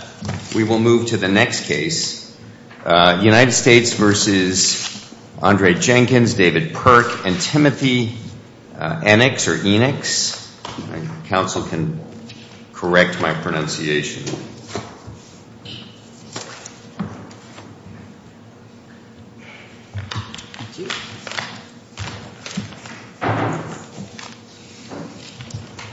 , David Perk, and Timothy Enix).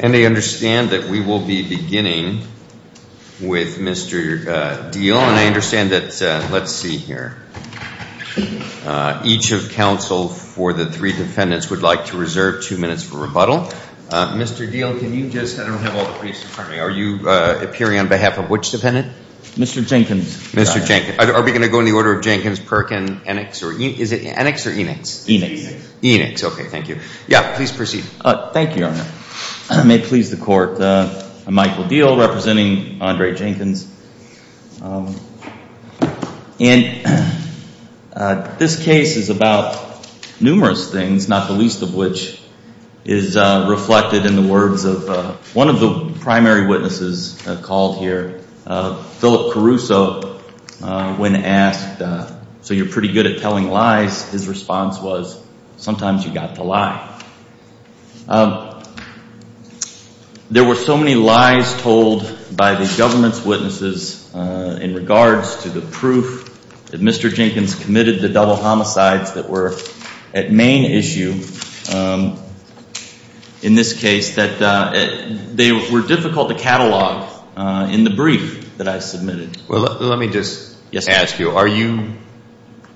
And I understand that we will be beginning with Mr. Diehl, and I understand that, let's see here, each of counsel for the three defendants would like to reserve two minutes for rebuttal. Mr. Diehl, can you just, I don't have all the pieces for me, are you appearing on behalf of which defendant? Mr. Jenkins. Mr. Jenkins. Are we going to go in the order of Jenkins, Perkin, Enix, is it Enix or Enix? Enix. Enix. Okay, thank you. Yeah, please proceed. Thank you, Your Honor. May it please the Court, I'm Michael Diehl representing Andre Jenkins, and this case is about numerous things, not the least of which is reflected in the words of one of the primary witnesses called here, Philip Caruso, when asked, so you're pretty good at telling lies, his response was, sometimes you've got to lie. There were so many lies told by the government's witnesses in regards to the proof that Mr. were difficult to catalog in the brief that I submitted. Let me just ask you, are you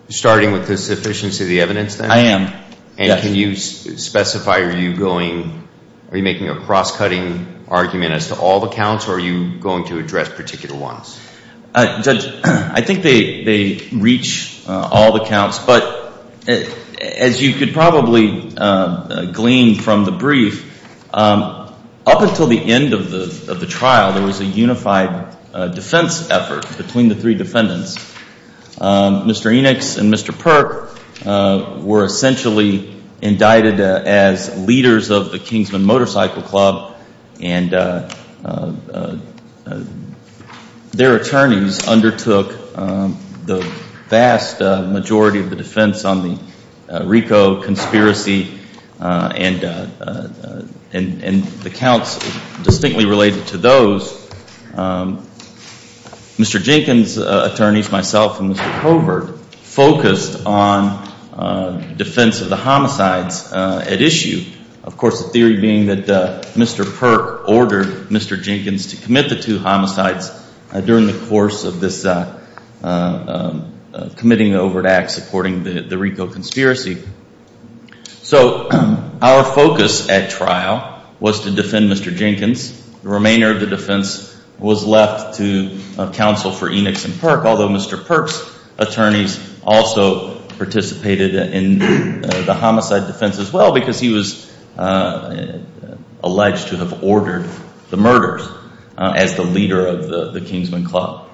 starting with the sufficiency of the evidence then? I am. And can you specify, are you making a cross-cutting argument as to all the counts, or are you going to address particular ones? But as you could probably glean from the brief, up until the end of the trial, there was a unified defense effort between the three defendants. Mr. Enix and Mr. Perk were essentially indicted as leaders of the Kingsman Motorcycle Club, and their attorneys undertook the vast majority of the defense on the RICO conspiracy, and the counts distinctly related to those. Mr. Jenkins' attorneys, myself and Mr. Covert, focused on defense of the homicides at issue, of course, the theory being that Mr. Perk ordered Mr. Jenkins to commit the two homicides during the course of this committing the overt act supporting the RICO conspiracy. So our focus at trial was to defend Mr. Jenkins. The remainder of the defense was left to counsel for Enix and Perk, although Mr. Perk's attorneys also participated in the homicide defense as well, because he was alleged to have ordered the murders as the leader of the Kingsman Club.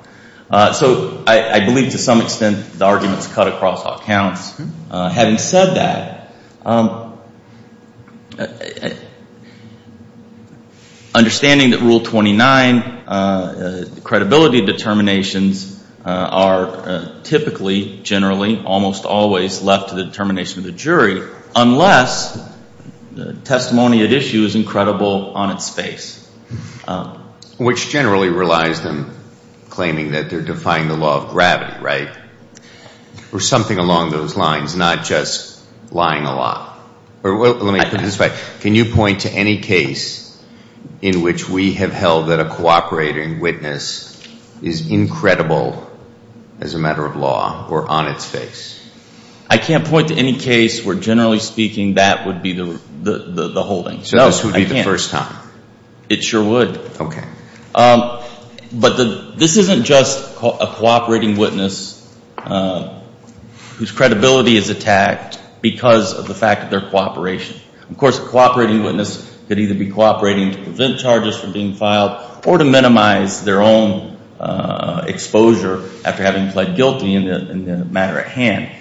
So I believe, to some extent, the arguments cut across all counts. Having said that, understanding that Rule 29, credibility determinations are typically, generally, almost always left to the determination of the jury, unless testimony at issue is incredible on its face. Which generally relies on claiming that they're defying the law of gravity, right? Or something along those lines, not just lying a lot. Or let me put it this way, can you point to any case in which we have held that a cooperating witness is incredible as a matter of law or on its face? I can't point to any case where, generally speaking, that would be the holding. So this would be the first time? It sure would. Okay. But this isn't just a cooperating witness whose credibility is attacked because of the fact of their cooperation. Of course, a cooperating witness could either be cooperating to prevent charges from being filed, or to minimize their own exposure after having pled guilty in the matter at hand.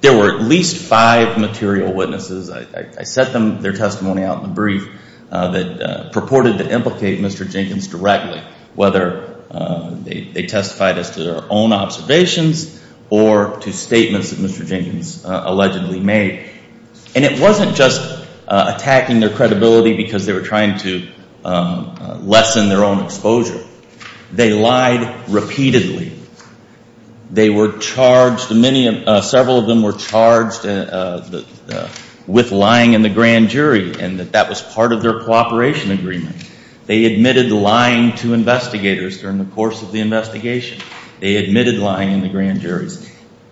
There were at least five material witnesses, I set their testimony out in the brief, that purported to implicate Mr. Jenkins directly, whether they testified as to their own observations, or to statements that Mr. Jenkins allegedly made. And it wasn't just attacking their credibility because they were trying to lessen their own exposure. They lied repeatedly. They were charged, several of them were charged with lying in the grand jury, and that that was part of their cooperation agreement. They admitted lying to investigators during the course of the investigation. They admitted lying in the grand jury.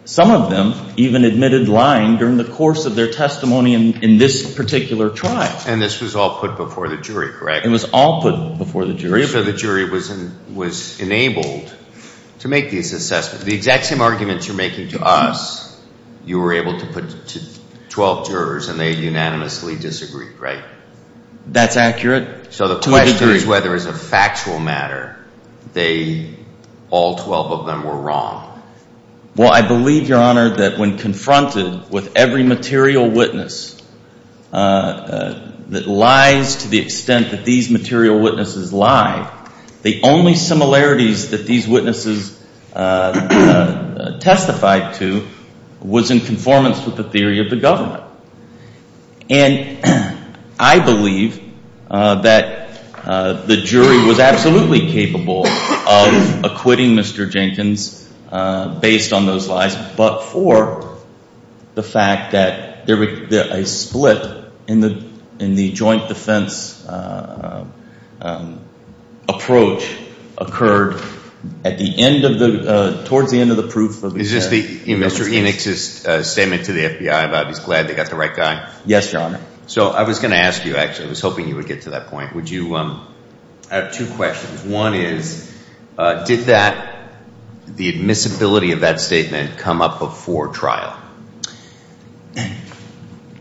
Some of them even admitted lying during the course of their testimony in this particular trial. And this was all put before the jury, correct? It was all put before the jury. So the jury was enabled to make these assessments. The exact same arguments you're making to us, you were able to put to 12 jurors, and they unanimously disagreed, right? That's accurate. So the question is whether it's a factual matter. They, all 12 of them were wrong. Well, I believe, Your Honor, that when confronted with every material witness that lies to the extent that these material witnesses lie, the only similarities that these witnesses testified to was in conformance with the theory of the government. And I believe that the jury was absolutely capable of acquitting Mr. Jenkins based on those lies, but for the fact that a split in the joint defense approach occurred at the end of the, towards the end of the proof. Is this the, Mr. Enix's statement to the FBI about he's glad they got the right guy? Yes, Your Honor. So I was going to ask you, actually, I was hoping you would get to that point. Would you, I have two questions. One is, did that, the admissibility of that statement come up before trial?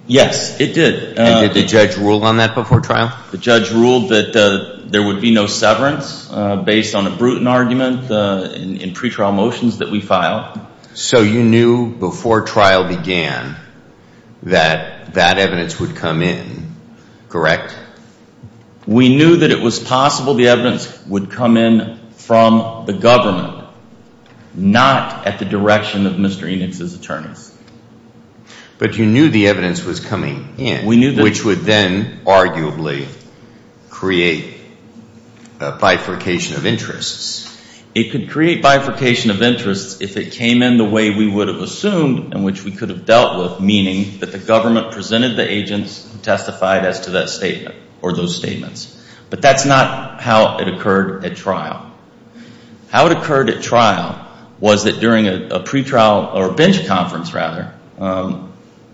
Yes, it did. And did the judge rule on that before trial? The judge ruled that there would be no severance based on a Bruton argument in pretrial motions that we filed. So you knew before trial began that that evidence would come in, correct? We knew that it was possible. The evidence would come in from the government, not at the direction of Mr. Enix's attorneys. But you knew the evidence was coming in. We knew that. Which would then, arguably, create a bifurcation of interests. It could create bifurcation of interests if it came in the way we would have assumed and which we could have dealt with, meaning that the government presented the agents and testified as to that statement or those statements. But that's not how it occurred at trial. How it occurred at trial was that during a pretrial, or a bench conference rather,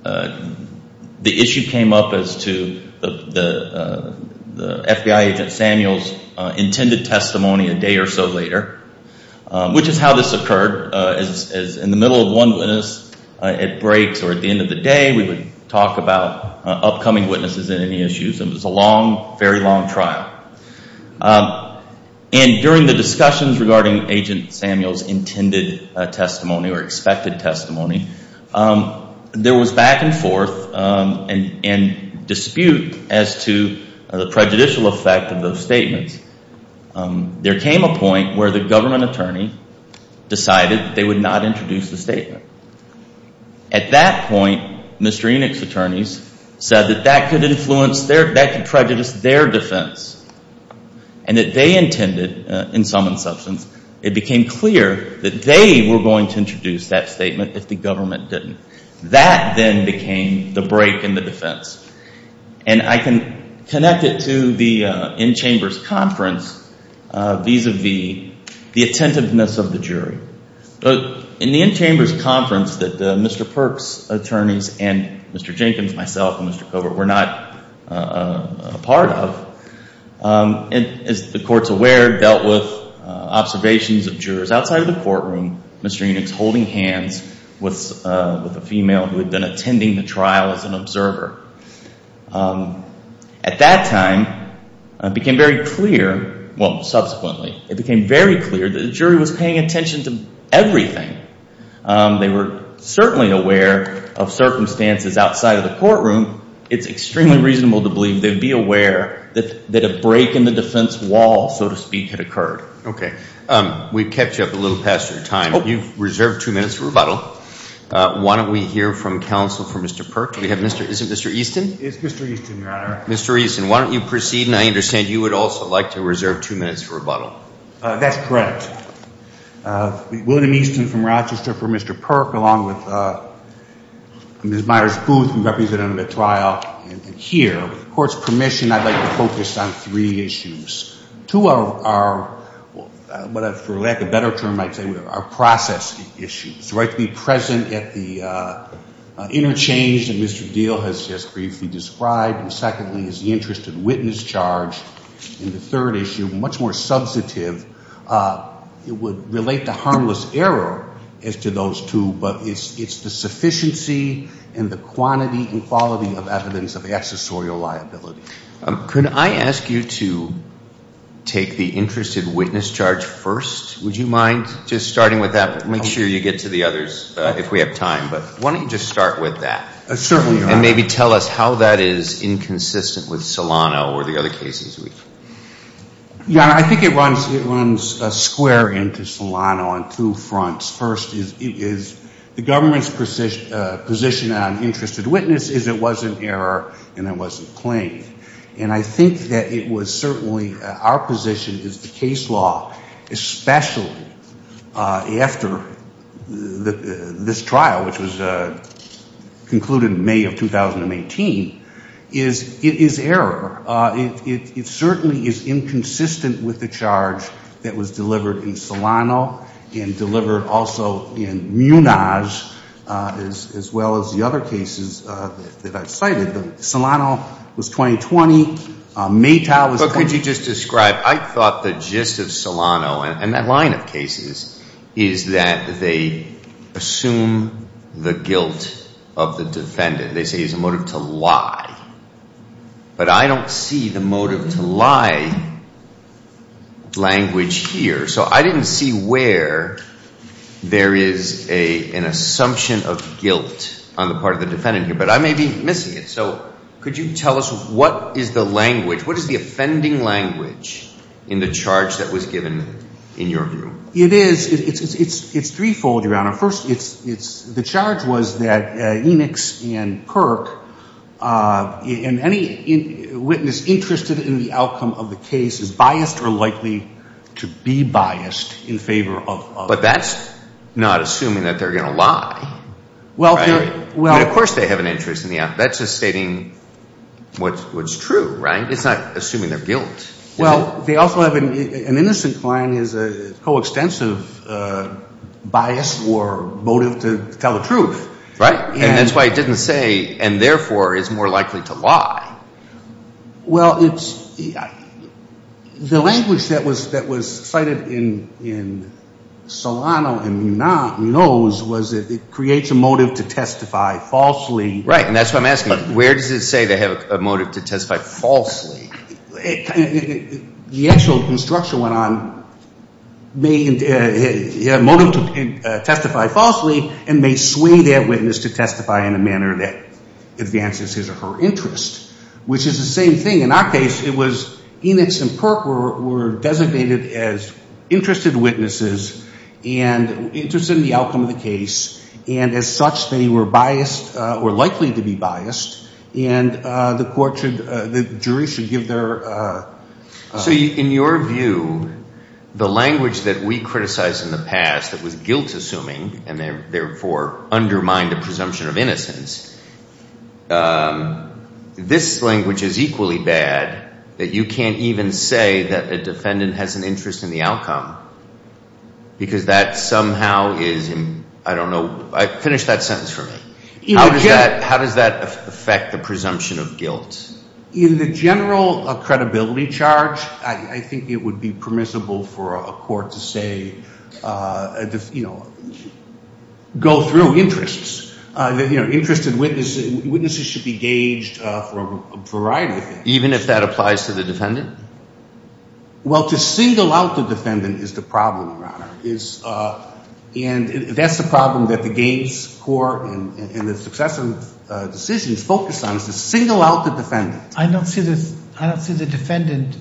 the issue came up as to the FBI agent Samuel's intended testimony a day or so later, which is how this occurred, as in the middle of one witness at breaks or at the end of the day, we would talk about upcoming witnesses and any issues. It was a long, very long trial. And during the discussions regarding Agent Samuel's intended testimony or expected testimony, there was back and forth and dispute as to the prejudicial effect of those statements. There came a point where the government attorney decided that they would not introduce the statement. At that point, Mr. Enoch's attorneys said that that could influence their, that could prejudice their defense and that they intended, in sum and substance, it became clear that they were going to introduce that statement if the government didn't. That then became the break in the defense. And I can connect it to the in-chambers conference vis-a-vis the attentiveness of the jury. But in the in-chambers conference that Mr. Perks' attorneys and Mr. Jenkins, myself, and Mr. Covert were not a part of, as the court's aware, dealt with observations of jurors outside of the courtroom, Mr. Enoch's holding hands with a female who had been attending the trial as an observer. At that time, it became very clear, well, subsequently, it became very clear that the jury was paying attention to everything. They were certainly aware of circumstances outside of the courtroom. It's extremely reasonable to believe they'd be aware that a break in the defense wall, so to speak, had occurred. Okay. We've kept you up a little past your time. You've reserved two minutes for rebuttal. Why don't we hear from counsel for Mr. Perks? We have Mr., is it Mr. Easton? It's Mr. Easton, Your Honor. Mr. Easton, why don't you proceed, and I understand you would also like to reserve two minutes for rebuttal. That's correct. William Easton from Rochester for Mr. Perk, along with Ms. Myers Booth, who represented him at trial, and here. With the court's permission, I'd like to focus on three issues. Two are, for lack of a better term, I'd say, are process issues. The right to be present at the interchange that Mr. Deal has just briefly described, and secondly, is the interest of witness charge, and the third issue, much more substantive, it would relate to harmless error as to those two, but it's the sufficiency and the quantity and quality of evidence of accessorial liability. Could I ask you to take the interest of witness charge first? Would you mind just starting with that, but make sure you get to the others if we have time, but why don't you just start with that, and maybe tell us how that is inconsistent with Solano or the other cases we've. Yeah, I think it runs square into Solano on two fronts. First is the government's position on interest of witness is it wasn't error and it wasn't claimed. And I think that it was certainly our position is the case law, especially after this trial, which was concluded in May of 2018, is it is error. It certainly is inconsistent with the charge that was delivered in Solano and delivered also in Munaz as well as the other cases that I've cited, but Solano was 2020, Matau was. But could you just describe, I thought the gist of Solano and that line of cases is that they assume the guilt of the defendant. They say it's a motive to lie, but I don't see the motive to lie language here. So I didn't see where there is an assumption of guilt on the part of the defendant here, but I may be missing it, so could you tell us what is the language, what is the offending language in the charge that was given in your group? It is, it's threefold, Your Honor. First, it's the charge was that Enix and Kirk and any witness interested in the outcome of the case is biased or likely to be biased in favor of. But that's not assuming that they're going to lie. Well, they're. Well, of course they have an interest in the alphabet, that's just stating what's true, right? It's not assuming their guilt. Well, they also have, an innocent client is a coextensive bias or motive to tell the truth. Right, and that's why it didn't say, and therefore is more likely to lie. Well, it's, the language that was cited in Solano and Munoz was that it creates a motive to testify falsely. Right, and that's what I'm asking, where does it say they have a motive to testify falsely? The actual construction went on, may, motive to testify falsely and may sway that witness to testify in a manner that advances his or her interest, which is the same thing. In our case, it was Enix and Kirk were designated as interested witnesses and interested in the outcome of the case, and as such, they were biased or likely to be biased. And the court should, the jury should give their. So, in your view, the language that we criticized in the past that was guilt-assuming and therefore undermined the presumption of innocence, this language is equally bad that you can't even say that a defendant has an interest in the outcome because that somehow is, I don't know, finish that sentence for me. How does that affect the presumption of guilt? In the general credibility charge, I think it would be permissible for a court to say, you know, go through interests, you know, interested witnesses should be gauged from a variety of things. Even if that applies to the defendant? Well, to single out the defendant is the problem, Your Honor, is, and that's the problem that the games court and the successive decisions focus on, is to single out the defendant. I don't see this, I don't see the defendant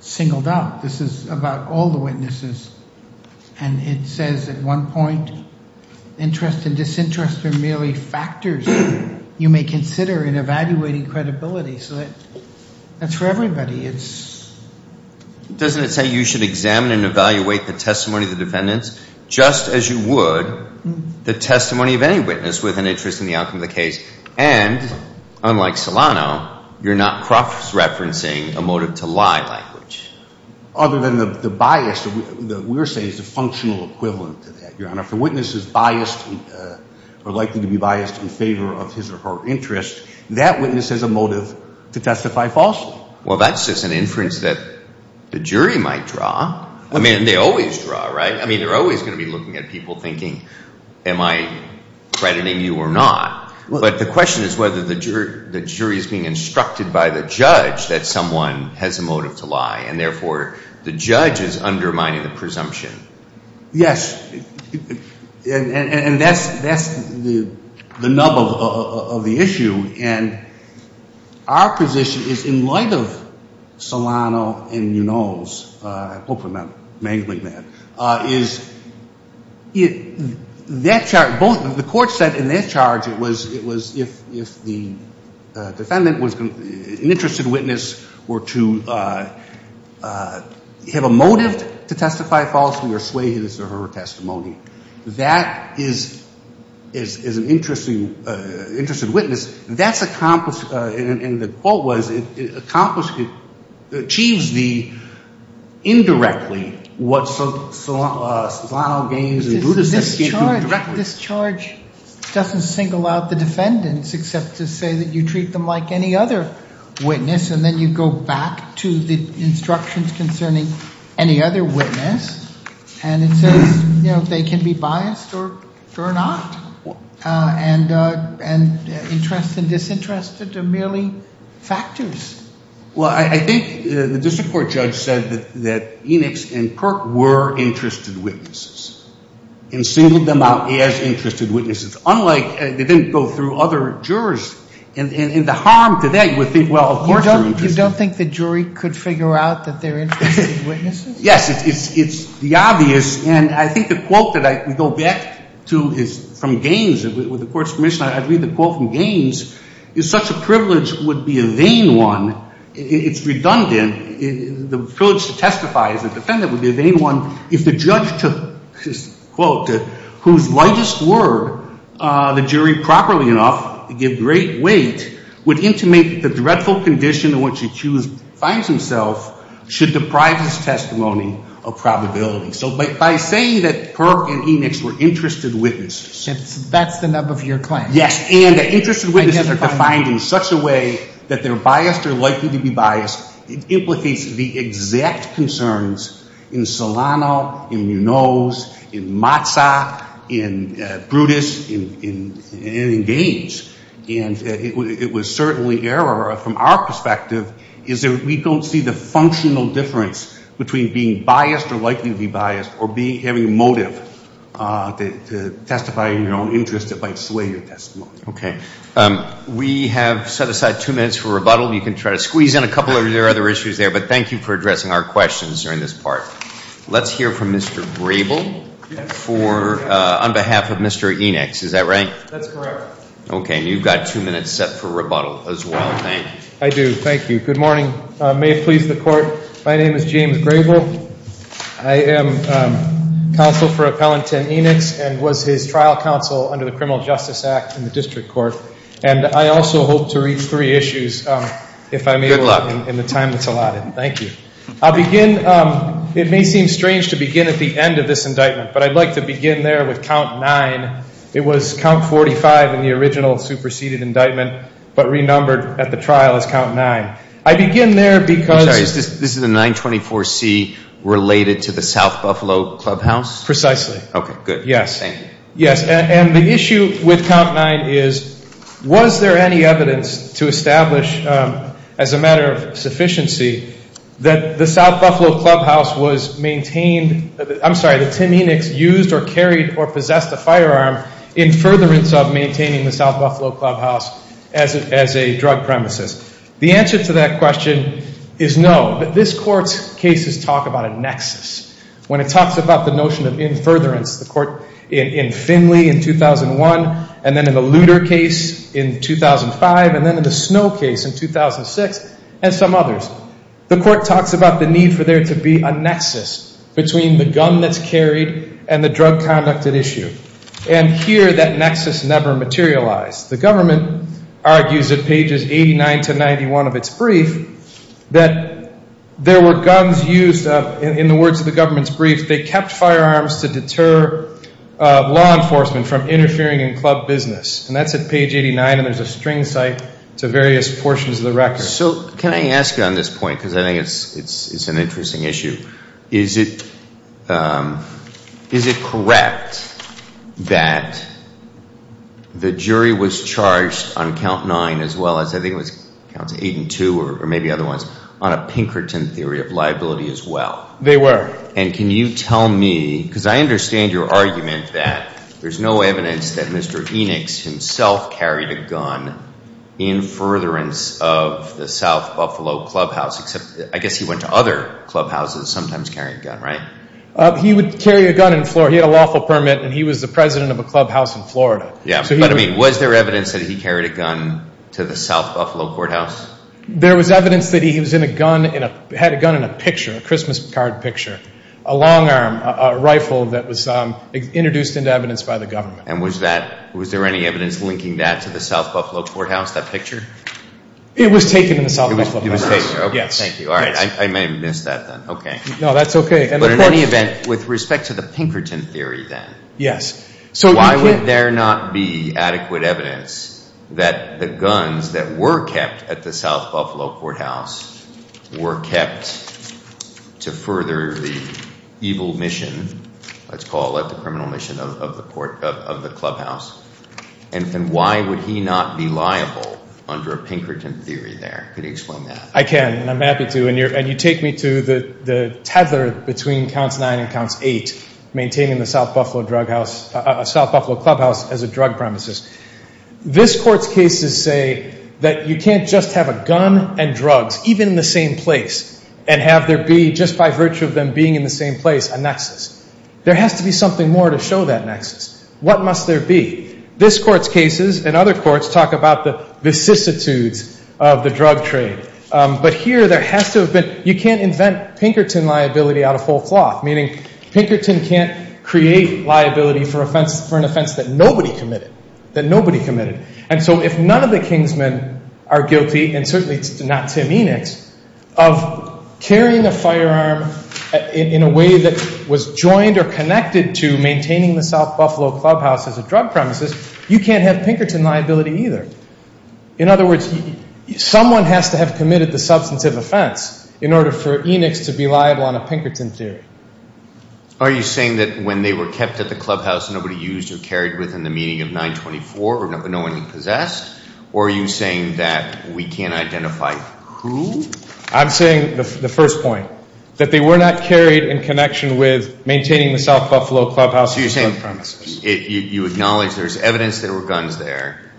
singled out. This is about all the witnesses. And it says at one point, interest and disinterest are merely factors you may consider in evaluating credibility, so that's for everybody, it's. Doesn't it say you should examine and evaluate the testimony of the defendants? Just as you would the testimony of any witness with an interest in the outcome of the case. And, unlike Solano, you're not cross-referencing a motive to lie language. Other than the bias that we're saying is a functional equivalent to that, Your Honor. If a witness is biased or likely to be biased in favor of his or her interest, that witness has a motive to testify falsely. Well, that's just an inference that the jury might draw. I mean, they always draw, right? I mean, they're always going to be looking at people thinking, am I crediting you or not? But the question is whether the jury is being instructed by the judge that someone has a motive to lie, and therefore, the judge is undermining the presumption. Yes. And that's the nub of the issue. And our position is, in light of Solano and Munoz, I hope I'm not mangling that, is that both the court said in that charge it was if the defendant was an interested witness or to have a motive to testify falsely or sway his or her testimony. That is an interested witness. That's accomplished, and the quote was, it achieves the indirectly what Solano gains and Munoz achieves indirectly. This charge doesn't single out the defendants except to say that you treat them like any other witness, and then you go back to the instructions concerning any other witness, and it says they can be biased or not, and interest and disinterest are merely factors. Well, I think the district court judge said that Enix and Perk were interested witnesses, and singled them out as interested witnesses. Unlike, they didn't go through other jurors. And the harm to that, you would think, well, of course they're interested. You don't think the jury could figure out that they're interested witnesses? Yes, it's the obvious, and I think the quote that we go back to is from Gaines. With the court's permission, I'd read the quote from Gaines. If such a privilege would be a vain one, it's redundant, the privilege to testify as a defendant would be a vain one if the judge took, quote, whose lightest word the jury properly enough to give great weight would intimate the dreadful condition in which the accused finds himself should deprive his testimony of probability. So by saying that Perk and Enix were interested witnesses. That's the nub of your claim. Yes, and the interested witnesses are defined in such a way that they're biased or likely to be biased. It implicates the exact concerns in Solano, in Munoz, in Matzah, in Brutus, in Gaines. And it was certainly error from our perspective is that we don't see the functional difference between being biased or likely to be biased or having a motive to testify in your own interest that might sway your testimony. Okay, we have set aside two minutes for rebuttal. You can try to squeeze in a couple of your other issues there, but thank you for addressing our questions during this part. Let's hear from Mr. Grable on behalf of Mr. Enix, is that right? That's correct. Okay, and you've got two minutes set for rebuttal as well, Hank. I do, thank you. Good morning, may it please the court. My name is James Grable, I am counsel for Appellant 10 Enix and was his trial counsel under the Criminal Justice Act in the district court. And I also hope to reach three issues if I'm able in the time that's allotted, thank you. I'll begin, it may seem strange to begin at the end of this indictment, but I'd like to begin there with count nine. It was count 45 in the original superseded indictment, but renumbered at the trial as count nine. I begin there because- I'm sorry, this is a 924C related to the South Buffalo Clubhouse? Precisely. Okay, good. Yes. Yes, and the issue with count nine is, was there any evidence to establish, as a matter of sufficiency, that the South Buffalo Clubhouse was maintained, I'm sorry, that Tim Enix used or carried or possessed a firearm in furtherance of maintaining the South Buffalo Clubhouse as a drug premises? The answer to that question is no, but this court's cases talk about a nexus. When it talks about the notion of in furtherance, the court in Finley in 2001, and then in the Luder case in 2005, and then in the Snow case in 2006, and some others. The court talks about the need for there to be a nexus between the gun that's carried and the drug conduct at issue. And here, that nexus never materialized. The government argues at pages 89 to 91 of its brief, that there were guns used, in the words of the government's brief, they kept firearms to deter law enforcement from interfering in club business. And that's at page 89, and there's a string cite to various portions of the record. So, can I ask you on this point, because I think it's an interesting issue. Is it correct that the jury was charged on count nine as well as, I think it was counts eight and two, or maybe other ones, on a Pinkerton theory of liability as well? They were. And can you tell me, because I understand your argument that there's no evidence that Mr. Pinkerton was involved in the South Buffalo Clubhouse, except I guess he went to other clubhouses sometimes carrying a gun, right? He would carry a gun in Florida. He had a lawful permit, and he was the president of a clubhouse in Florida. Yeah, but I mean, was there evidence that he carried a gun to the South Buffalo Courthouse? There was evidence that he was in a gun, had a gun in a picture, a Christmas card picture, a long arm, a rifle that was introduced into evidence by the government. And was there any evidence linking that to the South Buffalo Courthouse, that picture? It was taken in the South Buffalo Courthouse. It was taken, okay, thank you. All right, I may have missed that then, okay. No, that's okay. But in any event, with respect to the Pinkerton theory then, why would there not be adequate evidence that the guns that were kept at the South Buffalo Courthouse were kept to further the evil mission, let's call it the criminal mission of the clubhouse? And why would he not be liable under a Pinkerton theory there? Could you explain that? I can, and I'm happy to. And you take me to the tether between Counts 9 and Counts 8, maintaining the South Buffalo Clubhouse as a drug premises. This Court's cases say that you can't just have a gun and drugs, even in the same place, and have there be, just by virtue of them being in the same place, a nexus. There has to be something more to show that nexus. What must there be? This Court's cases and other courts talk about the vicissitudes of the drug trade. But here, there has to have been, you can't invent Pinkerton liability out of whole cloth, meaning Pinkerton can't create liability for an offense that nobody committed, that nobody committed. And so if none of the Kingsmen are guilty, and certainly not Tim Enochs, of carrying a firearm in a way that was joined or connected to maintaining the South Buffalo Clubhouse as a drug premises, you can't have Pinkerton liability either. In other words, someone has to have committed the substantive offense in order for Enochs to be liable on a Pinkerton theory. Are you saying that when they were kept at the clubhouse, nobody used or carried within the meaning of 924, or no one possessed? Or are you saying that we can't identify who? I'm saying, the first point, that they were not carried in connection with maintaining the South Buffalo Clubhouse as a drug premises. So you're saying, you acknowledge there's evidence there were guns there,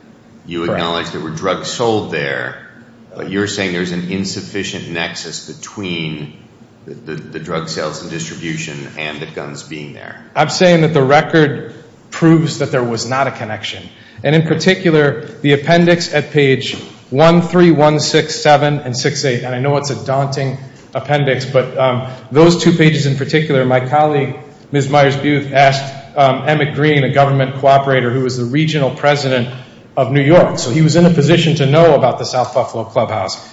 you acknowledge there were drugs sold there, but you're saying there's an insufficient nexus between the drug sales and distribution and the guns being there. I'm saying that the record proves that there was not a connection. And in particular, the appendix at page 13167 and 68, and I know it's a daunting appendix, but those two pages in particular, my colleague, Ms. Myers-Buth, asked Emmett Green, a government cooperator who was the regional president of New York. So he was in a position to know about the South Buffalo Clubhouse.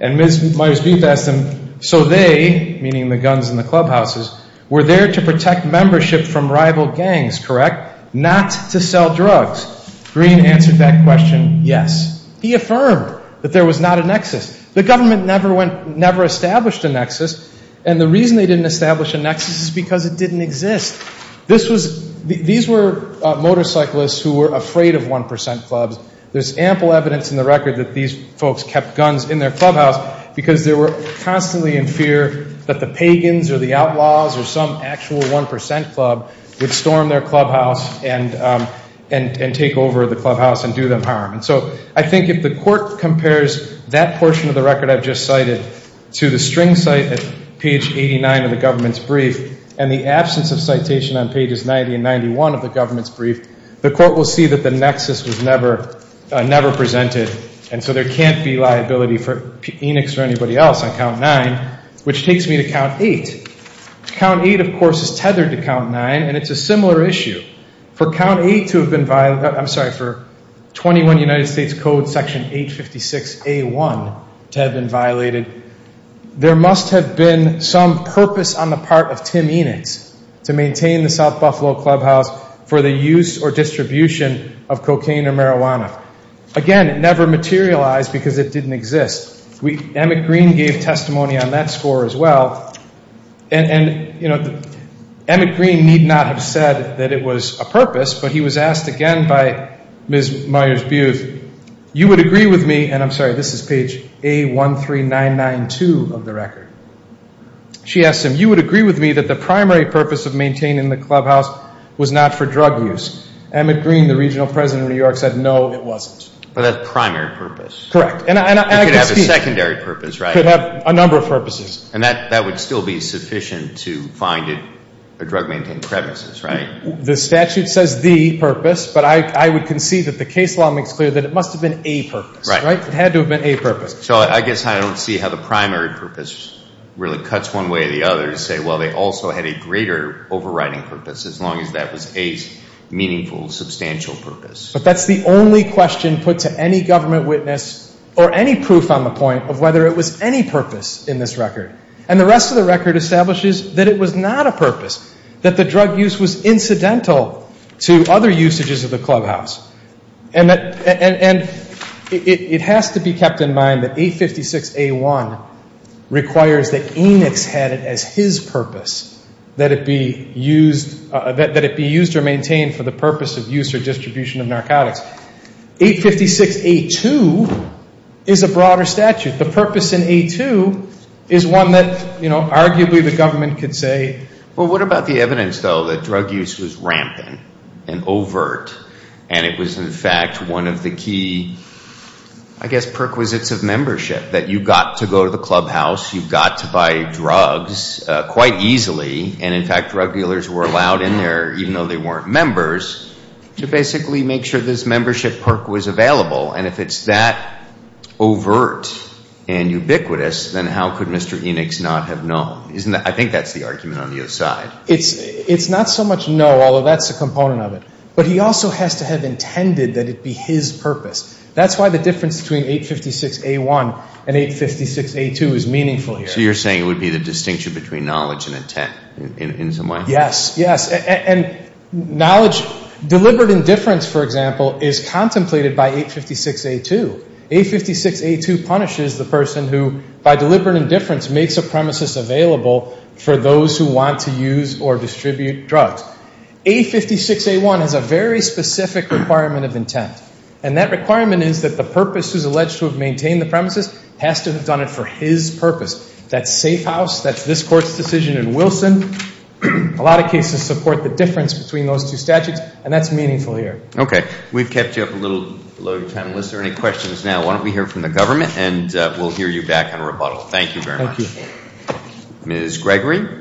And Ms. Myers-Buth asked him, so they, meaning the guns in the clubhouses, were there to protect membership from rival gangs, correct? Not to sell drugs. Green answered that question, yes. He affirmed that there was not a nexus. The government never went, never established a nexus. And the reason they didn't establish a nexus is because it didn't exist. This was, these were motorcyclists who were afraid of 1% clubs. There's ample evidence in the record that these folks kept guns in their clubhouse because they were constantly in fear that the pagans or the outlaws or some actual 1% club would storm their clubhouse and take over the clubhouse and do them harm. And so I think if the court compares that portion of the record I've just cited to the string site at page 89 of the government's brief and the absence of citation on pages 90 and 91 of the government's brief, the court will see that the nexus was never presented. And so there can't be liability for Enix or anybody else on count nine, which takes me to count eight. Count eight, of course, is tethered to count nine. And it's a similar issue. For count eight to have been, I'm sorry, for 21 United States Code section 856A1 to have been violated, there must have been some purpose on the part of Tim Enix to maintain the South Buffalo Clubhouse for the use or distribution of cocaine or marijuana. Again, it never materialized because it didn't exist. Emmett Green gave testimony on that score as well. And, you know, Emmett Green need not have said that it was a purpose, but he was asked again by Ms. Myers-Buth, you would agree with me, and I'm sorry, this is page A13992 of the record. She asked him, you would agree with me that the primary purpose of maintaining the clubhouse was not for drug use. Emmett Green, the regional president of New York, said no, it wasn't. But that's primary purpose. Correct. And I can speak. It could have a secondary purpose, right? It could have a number of purposes. And that would still be sufficient to find a drug-maintaining premises, right? The statute says the purpose, but I would concede that the case law makes clear that it must have been a purpose, right? It had to have been a purpose. So I guess I don't see how the primary purpose really cuts one way or the other to say, well, they also had a greater overriding purpose, as long as that was a meaningful, substantial purpose. But that's the only question put to any government witness or any proof on the point of whether it was any purpose in this record. And the rest of the record establishes that it was not a purpose, that the drug use was incidental to other usages of the clubhouse. And it has to be kept in mind that 856A1 requires that Enix had it as his purpose, that it be used or maintained for the purpose of use or distribution of narcotics. 856A2 is a broader statute. The purpose in A2 is one that, you know, arguably the government could say. Well, what about the evidence, though, that drug use was rampant and overt and it was, in fact, one of the key, I guess, perquisites of membership, that you got to go to the clubhouse, you got to buy drugs quite easily. And, in fact, drug dealers were allowed in there, even though they weren't members, to basically make sure this membership perk was available. And if it's that overt and ubiquitous, then how could Mr. Enix not have known? Isn't that, I think that's the argument on the other side. It's not so much no, although that's a component of it. But he also has to have intended that it be his purpose. That's why the difference between 856A1 and 856A2 is meaningful here. So you're saying it would be the distinction between knowledge and intent in some way? Yes, yes. And knowledge, deliberate indifference, for example, is contemplated by 856A2. 856A2 punishes the person who, by deliberate indifference, makes a premises available for those who want to use or distribute drugs. 856A1 has a very specific requirement of intent. And that requirement is that the purpose who's alleged to have maintained the premises has to have done it for his purpose. That safe house, that's this court's decision in Wilson. A lot of cases support the difference between those two statutes, and that's meaningful here. Okay. We've kept you up a little below your time. Was there any questions now? Why don't we hear from the government, and we'll hear you back on rebuttal. Thank you very much. Ms. Gregory?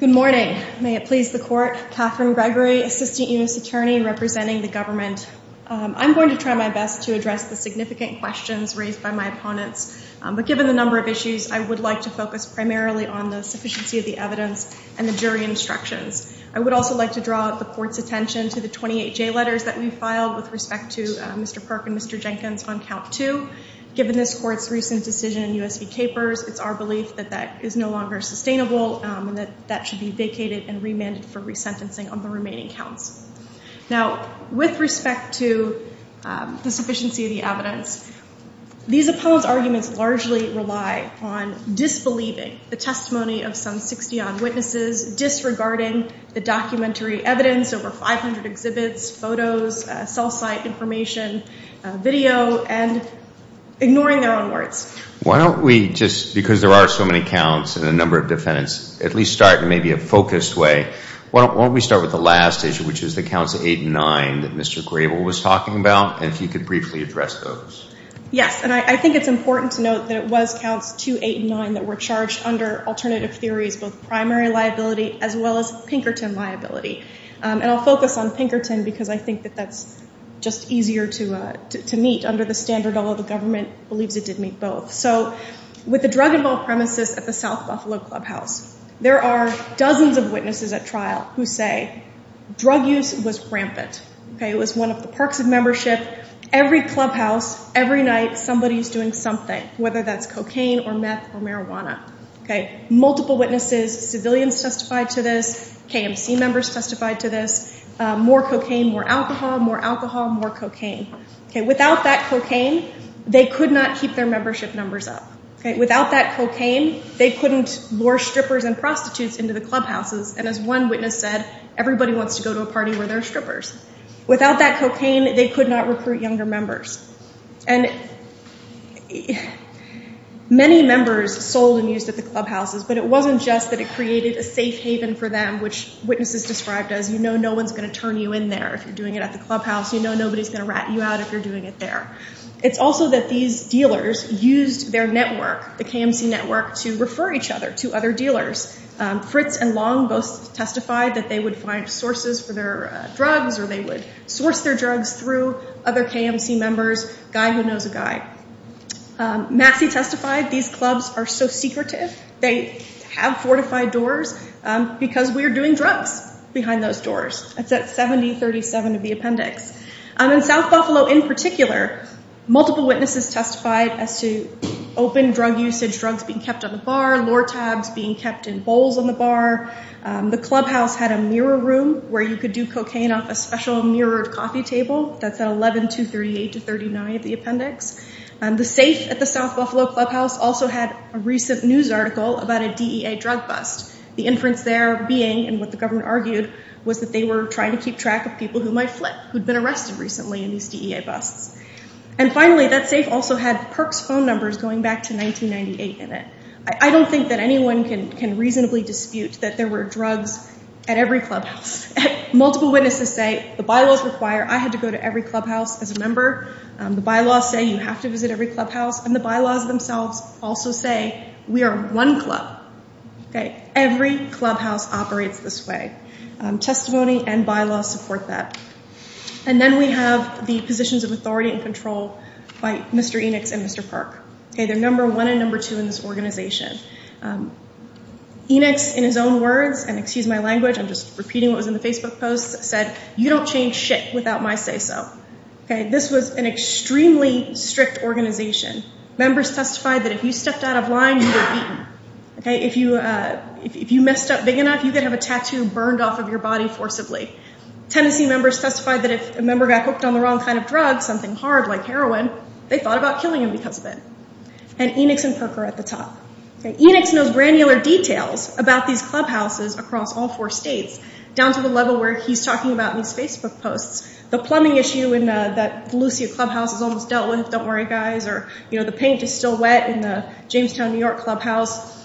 Good morning. May it please the court, Catherine Gregory, Assistant U.S. Attorney representing the government. I'm going to try my best to address the significant questions raised by my opponents. But given the number of issues, I would like to focus primarily on the sufficiency and the jury instructions. I would also like to draw the court's attention to the 28 J letters that we filed with respect to Mr. Park and Mr. Jenkins on count two. Given this court's recent decision in U.S. v. Capers, it's our belief that that is no longer sustainable, and that that should be vacated and remanded for resentencing on the remaining counts. These opponents' arguments largely rely on disbelieving the testimony of some 60-odd witnesses, disregarding the documentary evidence, over 500 exhibits, photos, cell site information, video, and ignoring their own words. Why don't we just, because there are so many counts and a number of defendants, at least start in maybe a focused way. Why don't we start with the last issue, which is the counts eight and nine that Mr. Grable was talking about, and if you could briefly address those. Yes, and I think it's important to note that it was counts two, eight, and nine that were charged under alternative theories, both primary liability as well as Pinkerton liability. And I'll focus on Pinkerton because I think that that's just easier to meet under the standard all of the government believes it did meet both. So with the drug-involved premises at the South Buffalo Clubhouse, there are dozens of witnesses at trial who say drug use was rampant. It was one of the parks of membership. Every clubhouse, every night, somebody's doing something, whether that's cocaine or meth or marijuana. Multiple witnesses, civilians testified to this, KMC members testified to this, more cocaine, more alcohol, more alcohol, more cocaine. Without that cocaine, they could not keep their membership numbers up. Without that cocaine, they couldn't lure strippers and prostitutes into the clubhouses, and as one witness said, everybody wants to go to a party where there are strippers. Without that cocaine, they could not recruit younger members. And many members sold and used at the clubhouses, but it wasn't just that it created a safe haven for them, which witnesses described as, you know, no one's going to turn you in there if you're doing it at the clubhouse. You know nobody's going to rat you out if you're doing it there. It's also that these dealers used their network, the KMC network, to refer each other to other dealers. Fritz and Long both testified that they would find sources for their drugs or they would source their drugs through other KMC members, guy who knows a guy. Massey testified these clubs are so secretive, they have fortified doors because we are doing drugs behind those doors. That's at 7037 of the appendix. In South Buffalo in particular, multiple witnesses testified as to open drug usage, drugs being kept on the bar, Lortabs being kept in bowls on the bar. The clubhouse had a mirror room where you could do cocaine off a special mirrored coffee table. That's at 11238 to 39 of the appendix. The safe at the South Buffalo clubhouse also had a recent news article about a DEA drug bust. The inference there being, and what the government argued, was that they were trying to keep track of people who might flip, who'd been arrested recently in these DEA busts. And finally, that safe also had Perks phone numbers going back to 1998 in it. I don't think that anyone can reasonably dispute that there were drugs at every clubhouse. Multiple witnesses say the bylaws require I had to go to every clubhouse as a member. The bylaws say you have to visit every clubhouse. And the bylaws themselves also say we are one club. Okay. Every clubhouse operates this way. Testimony and bylaws support that. And then we have the positions of authority and control by Mr. Enix and Mr. Perk. Okay. They're number one and number two in this organization. Enix, in his own words, and excuse my language, I'm just repeating what was in the Facebook post, said, you don't change shit without my say so. Okay. This was an extremely strict organization. Members testified that if you stepped out of line, you were beaten. Okay. If you messed up big enough, you could have a tattoo burned off of your body forcibly. Tennessee members testified that if a member got hooked on the wrong kind of drug, something hard like heroin, they thought about killing him because of it. And Enix and Perk are at the top. Okay. Enix knows granular details about these clubhouses across all four states, down to the level where he's talking about in his Facebook posts. The plumbing issue in that Lucia clubhouse is almost dealt with, don't worry, guys. Or, you know, the paint is still wet in the Jamestown, New York clubhouse.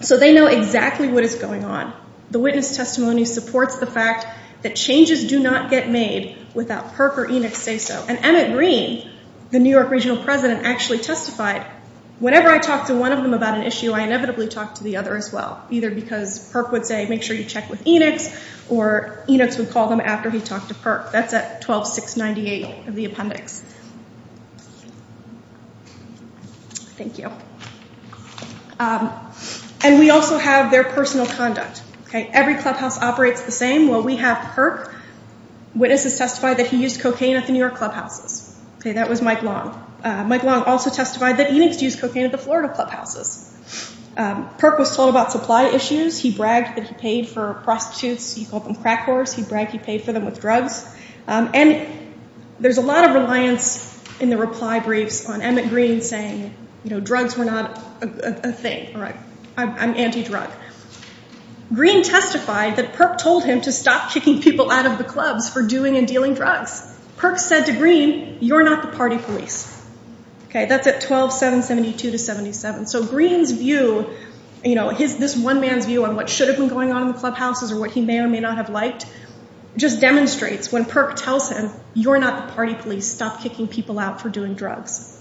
So they know exactly what is going on. The witness testimony supports the fact that changes do not get made without Perk or Enix say so. And Emmett Greene, the New York regional president, actually testified, whenever I talk to one of them about an issue, I inevitably talk to the other as well. Either because Perk would say, make sure you check with Enix, or Enix would call them after he talked to Perk. That's at 12698 of the appendix. Thank you. And we also have their personal conduct. Okay. Every clubhouse operates the same. Well, we have Perk. Witnesses testified that he used cocaine at the New York clubhouses. Okay. That was Mike Long. Mike Long also testified that Enix used cocaine at the Florida clubhouses. Perk was told about supply issues. He bragged that he paid for prostitutes. He called them crack whores. He bragged he paid for them with drugs. And there's a lot of reliance in the reply briefs on Emmett Greene saying, you know, drugs were not a thing. All right. I'm anti-drug. Greene testified that Perk told him to stop kicking people out of the clubs for doing and dealing drugs. Perk said to Greene, you're not the party police. Okay. That's at 12772 to 77. So Greene's view, you know, this one man's view on what should have been going on in the clubhouses or what he may or may not have liked, just demonstrates when Perk tells him, you're not the party police. Stop kicking people out for doing drugs.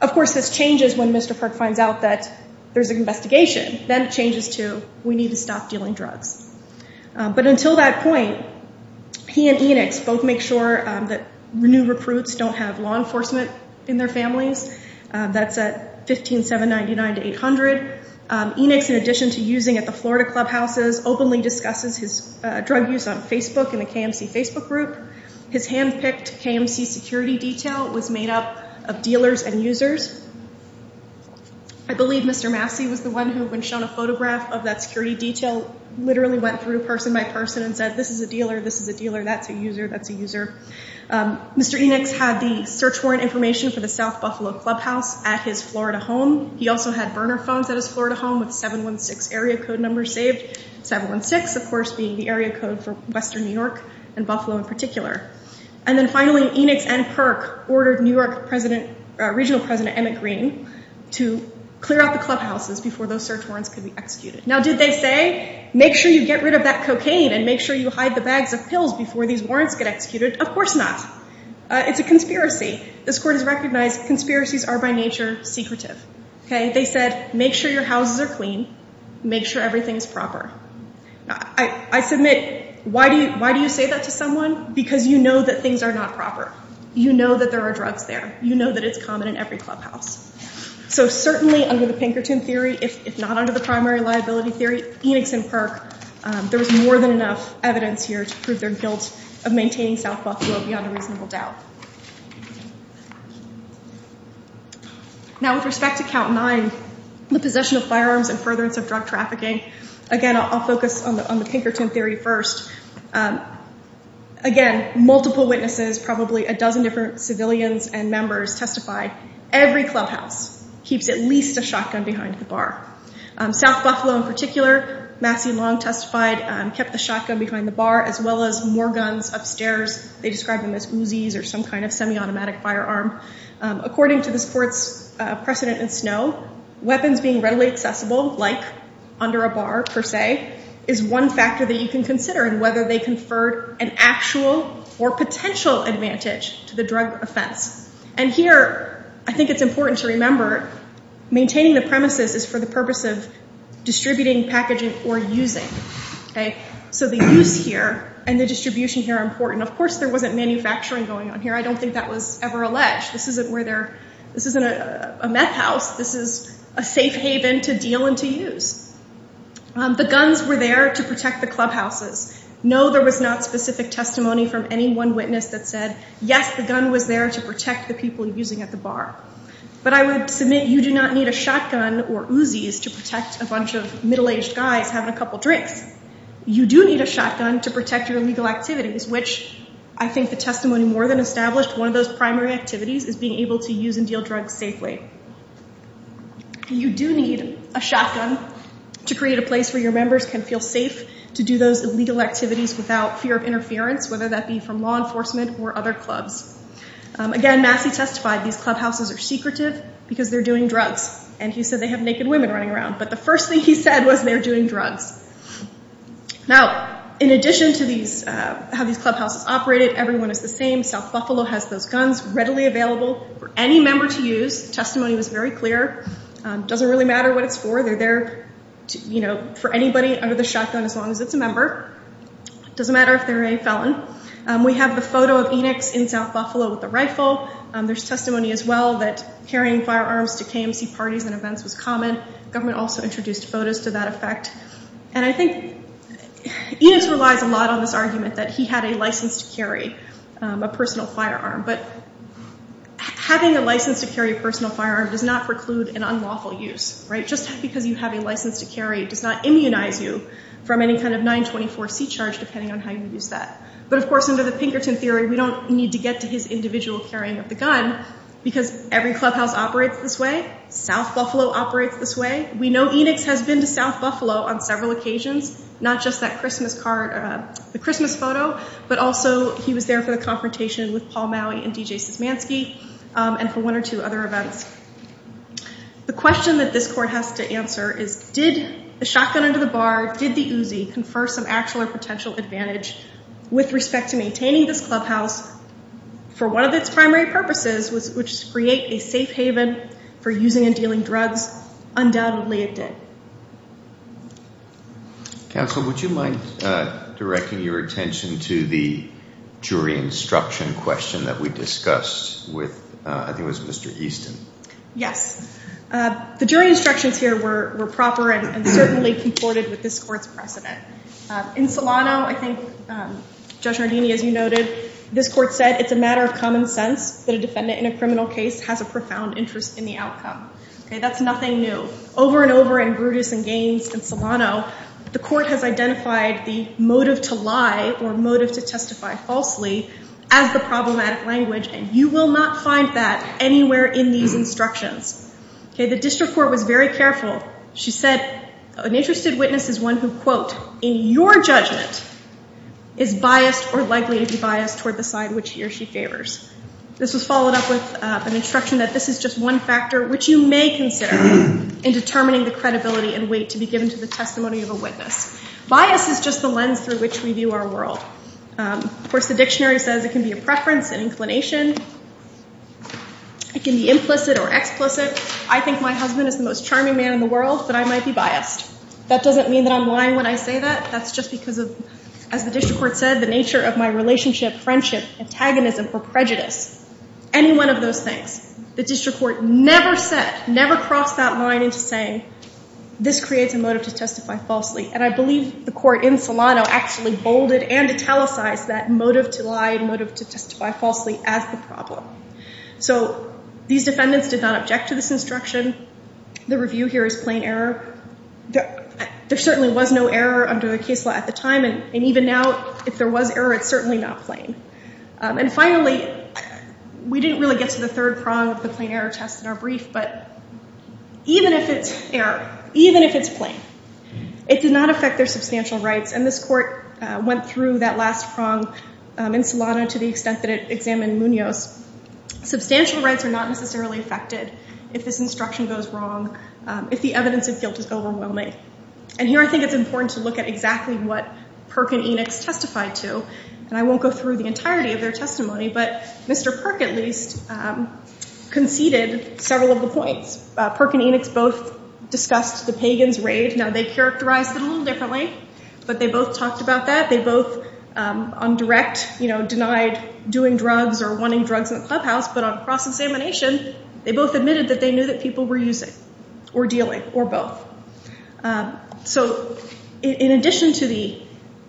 Of course, this changes when Mr. Perk finds out that there's an investigation. Then it changes to, we need to stop dealing drugs. But until that point, he and Enix both make sure that new recruits don't have law enforcement in their families. That's at 15799 to 800. Enix, in addition to using at the Florida clubhouses, openly discusses his drug use on Facebook and the KMC Facebook group. His hand-picked KMC security detail was made up of dealers and users. I believe Mr. Massey was the one who, when shown a photograph of that security detail, literally went through person by person and said, this is a dealer, this is a dealer, that's a user, that's a user. Mr. Enix had the search warrant information for the South Buffalo Clubhouse at his Florida home. He also had burner phones at his Florida home with 716 area code number saved. 716, of course, being the area code for Western New York and Buffalo in particular. And then finally, Enix and Perk ordered New York President, Regional President Emmett Greene to clear out the clubhouses before those search warrants could be executed. Now, did they say, make sure you get rid of that cocaine and make sure you hide the bags of pills before these warrants get executed? Of course not. It's a conspiracy. This court has recognized conspiracies are, by nature, secretive. Okay? They said, make sure your houses are clean. Make sure everything's proper. Now, I submit, why do you say that to someone? Because you know that things are not proper. You know that there are drugs there. You know that it's common in every clubhouse. So certainly, under the Pinkerton theory, if not under the primary liability theory, Enix and Perk, there was more than enough evidence here to prove their guilt of maintaining South Buffalo beyond a reasonable doubt. Now, with respect to count nine, the possession of firearms and furtherance of drug trafficking, again, I'll focus on the Pinkerton theory first. Again, multiple witnesses, probably a dozen different civilians and members testified, every clubhouse keeps at least a shotgun behind the bar. South Buffalo, in particular, Massey Long testified, kept the shotgun behind the bar, as well as more guns upstairs. They described them as Uzi's or something like that. Some kind of semi-automatic firearm. According to this court's precedent in Snow, weapons being readily accessible, like under a bar, per se, is one factor that you can consider in whether they conferred an actual or potential advantage to the drug offense. And here, I think it's important to remember, maintaining the premises is for the purpose of distributing, packaging, or using. So the use here and the distribution here are important. Of course, there wasn't manufacturing going on here. I don't think that was ever alleged. This isn't a meth house. This is a safe haven to deal and to use. The guns were there to protect the clubhouses. No, there was not specific testimony from any one witness that said, yes, the gun was there to protect the people using at the bar. But I would submit you do not need a shotgun or Uzi's to protect a bunch of middle-aged guys having a couple drinks. You do need a shotgun to protect your legal activities, which I think the testimony more than established, one of those primary activities is being able to use and deal drugs safely. You do need a shotgun to create a place where your members can feel safe to do those illegal activities without fear of interference, whether that be from law enforcement or other clubs. Again, Massey testified these clubhouses are secretive because they're doing drugs. And he said they have naked women running around. But the first thing he said was they're doing drugs. Now, in addition to how these clubhouses operated, everyone is the same. South Buffalo has those guns readily available for any member to use. Testimony was very clear. Doesn't really matter what it's for. They're there for anybody under the shotgun as long as it's a member. Doesn't matter if they're a felon. We have the photo of Enix in South Buffalo with the rifle. There's testimony as well that carrying firearms to KMC parties and events was common. Government also introduced photos to that effect. And I think Enix relies a lot on this argument that he had a license to carry a personal firearm. But having a license to carry a personal firearm does not preclude an unlawful use. Just because you have a license to carry does not immunize you from any kind of 924C charge, depending on how you use that. But of course, under the Pinkerton theory, we don't need to get to his individual carrying of the gun because every clubhouse operates this way. South Buffalo operates this way. We know Enix has been to South Buffalo on several occasions, not just that Christmas card, the Christmas photo, but also he was there for the confrontation with Paul Maui and DJ Szymanski and for one or two other events. The question that this court has to answer is, did the shotgun under the bar, did the Uzi confer some actual or potential advantage with respect to maintaining this clubhouse for one of its primary purposes, which is to create a safe haven for using and dealing drugs? Undoubtedly, it did. Counsel, would you mind directing your attention to the jury instruction question that we discussed with, I think it was Mr. Easton? Yes. The jury instructions here were proper and certainly comported with this court's precedent. In Solano, I think, Judge Nardini, as you noted, this court said, it's a matter of common sense that a defendant in a criminal case has a profound interest in the outcome. That's nothing new. Over and over in Brutus and Gaines and Solano, the court has identified the motive to lie or motive to testify falsely as the problematic language, and you will not find that anywhere in these instructions. The district court was very careful. She said, an interested witness is one who, quote, in your judgment is biased or likely to be biased toward the side which he or she favors. This was followed up with an instruction that this is just one factor, which you may consider in determining the credibility and weight to be given to the testimony of a witness. Bias is just the lens through which we view our world. Of course, the dictionary says it can be a preference, an inclination. It can be implicit or explicit. I think my husband is the most charming man in the world, but I might be biased. That doesn't mean that I'm lying when I say that. That's just because of, as the district court said, the nature of my relationship, friendship, antagonism, or prejudice. Any one of those things. The district court never said, never crossed that line into saying, this creates a motive to testify falsely. And I believe the court in Solano actually bolded and italicized that motive to lie and motive to testify falsely as the problem. So these defendants did not object to this instruction. The review here is plain error. There certainly was no error under the case law at the time. And even now, if there was error, it's certainly not plain. And finally, we didn't really get to the third prong of the plain error test in our brief, but even if it's error, even if it's plain, it did not affect their substantial rights. And this court went through that last prong in Solano to the extent that it examined Munoz. Substantial rights are not necessarily affected if this instruction goes wrong, if the evidence of guilt is overwhelming. And here, I think it's important to look at exactly what Perk and Enochs testified to. And I won't go through the entirety of their testimony, but Mr. Perk, at least, conceded several of the points. Perk and Enochs both discussed the Pagans' raid. Now, they characterized it a little differently, but they both talked about that. They both, on direct, denied doing drugs or wanting drugs in the clubhouse, but on cross-examination, they both admitted that they knew that people were using, or dealing, or both. So in addition to the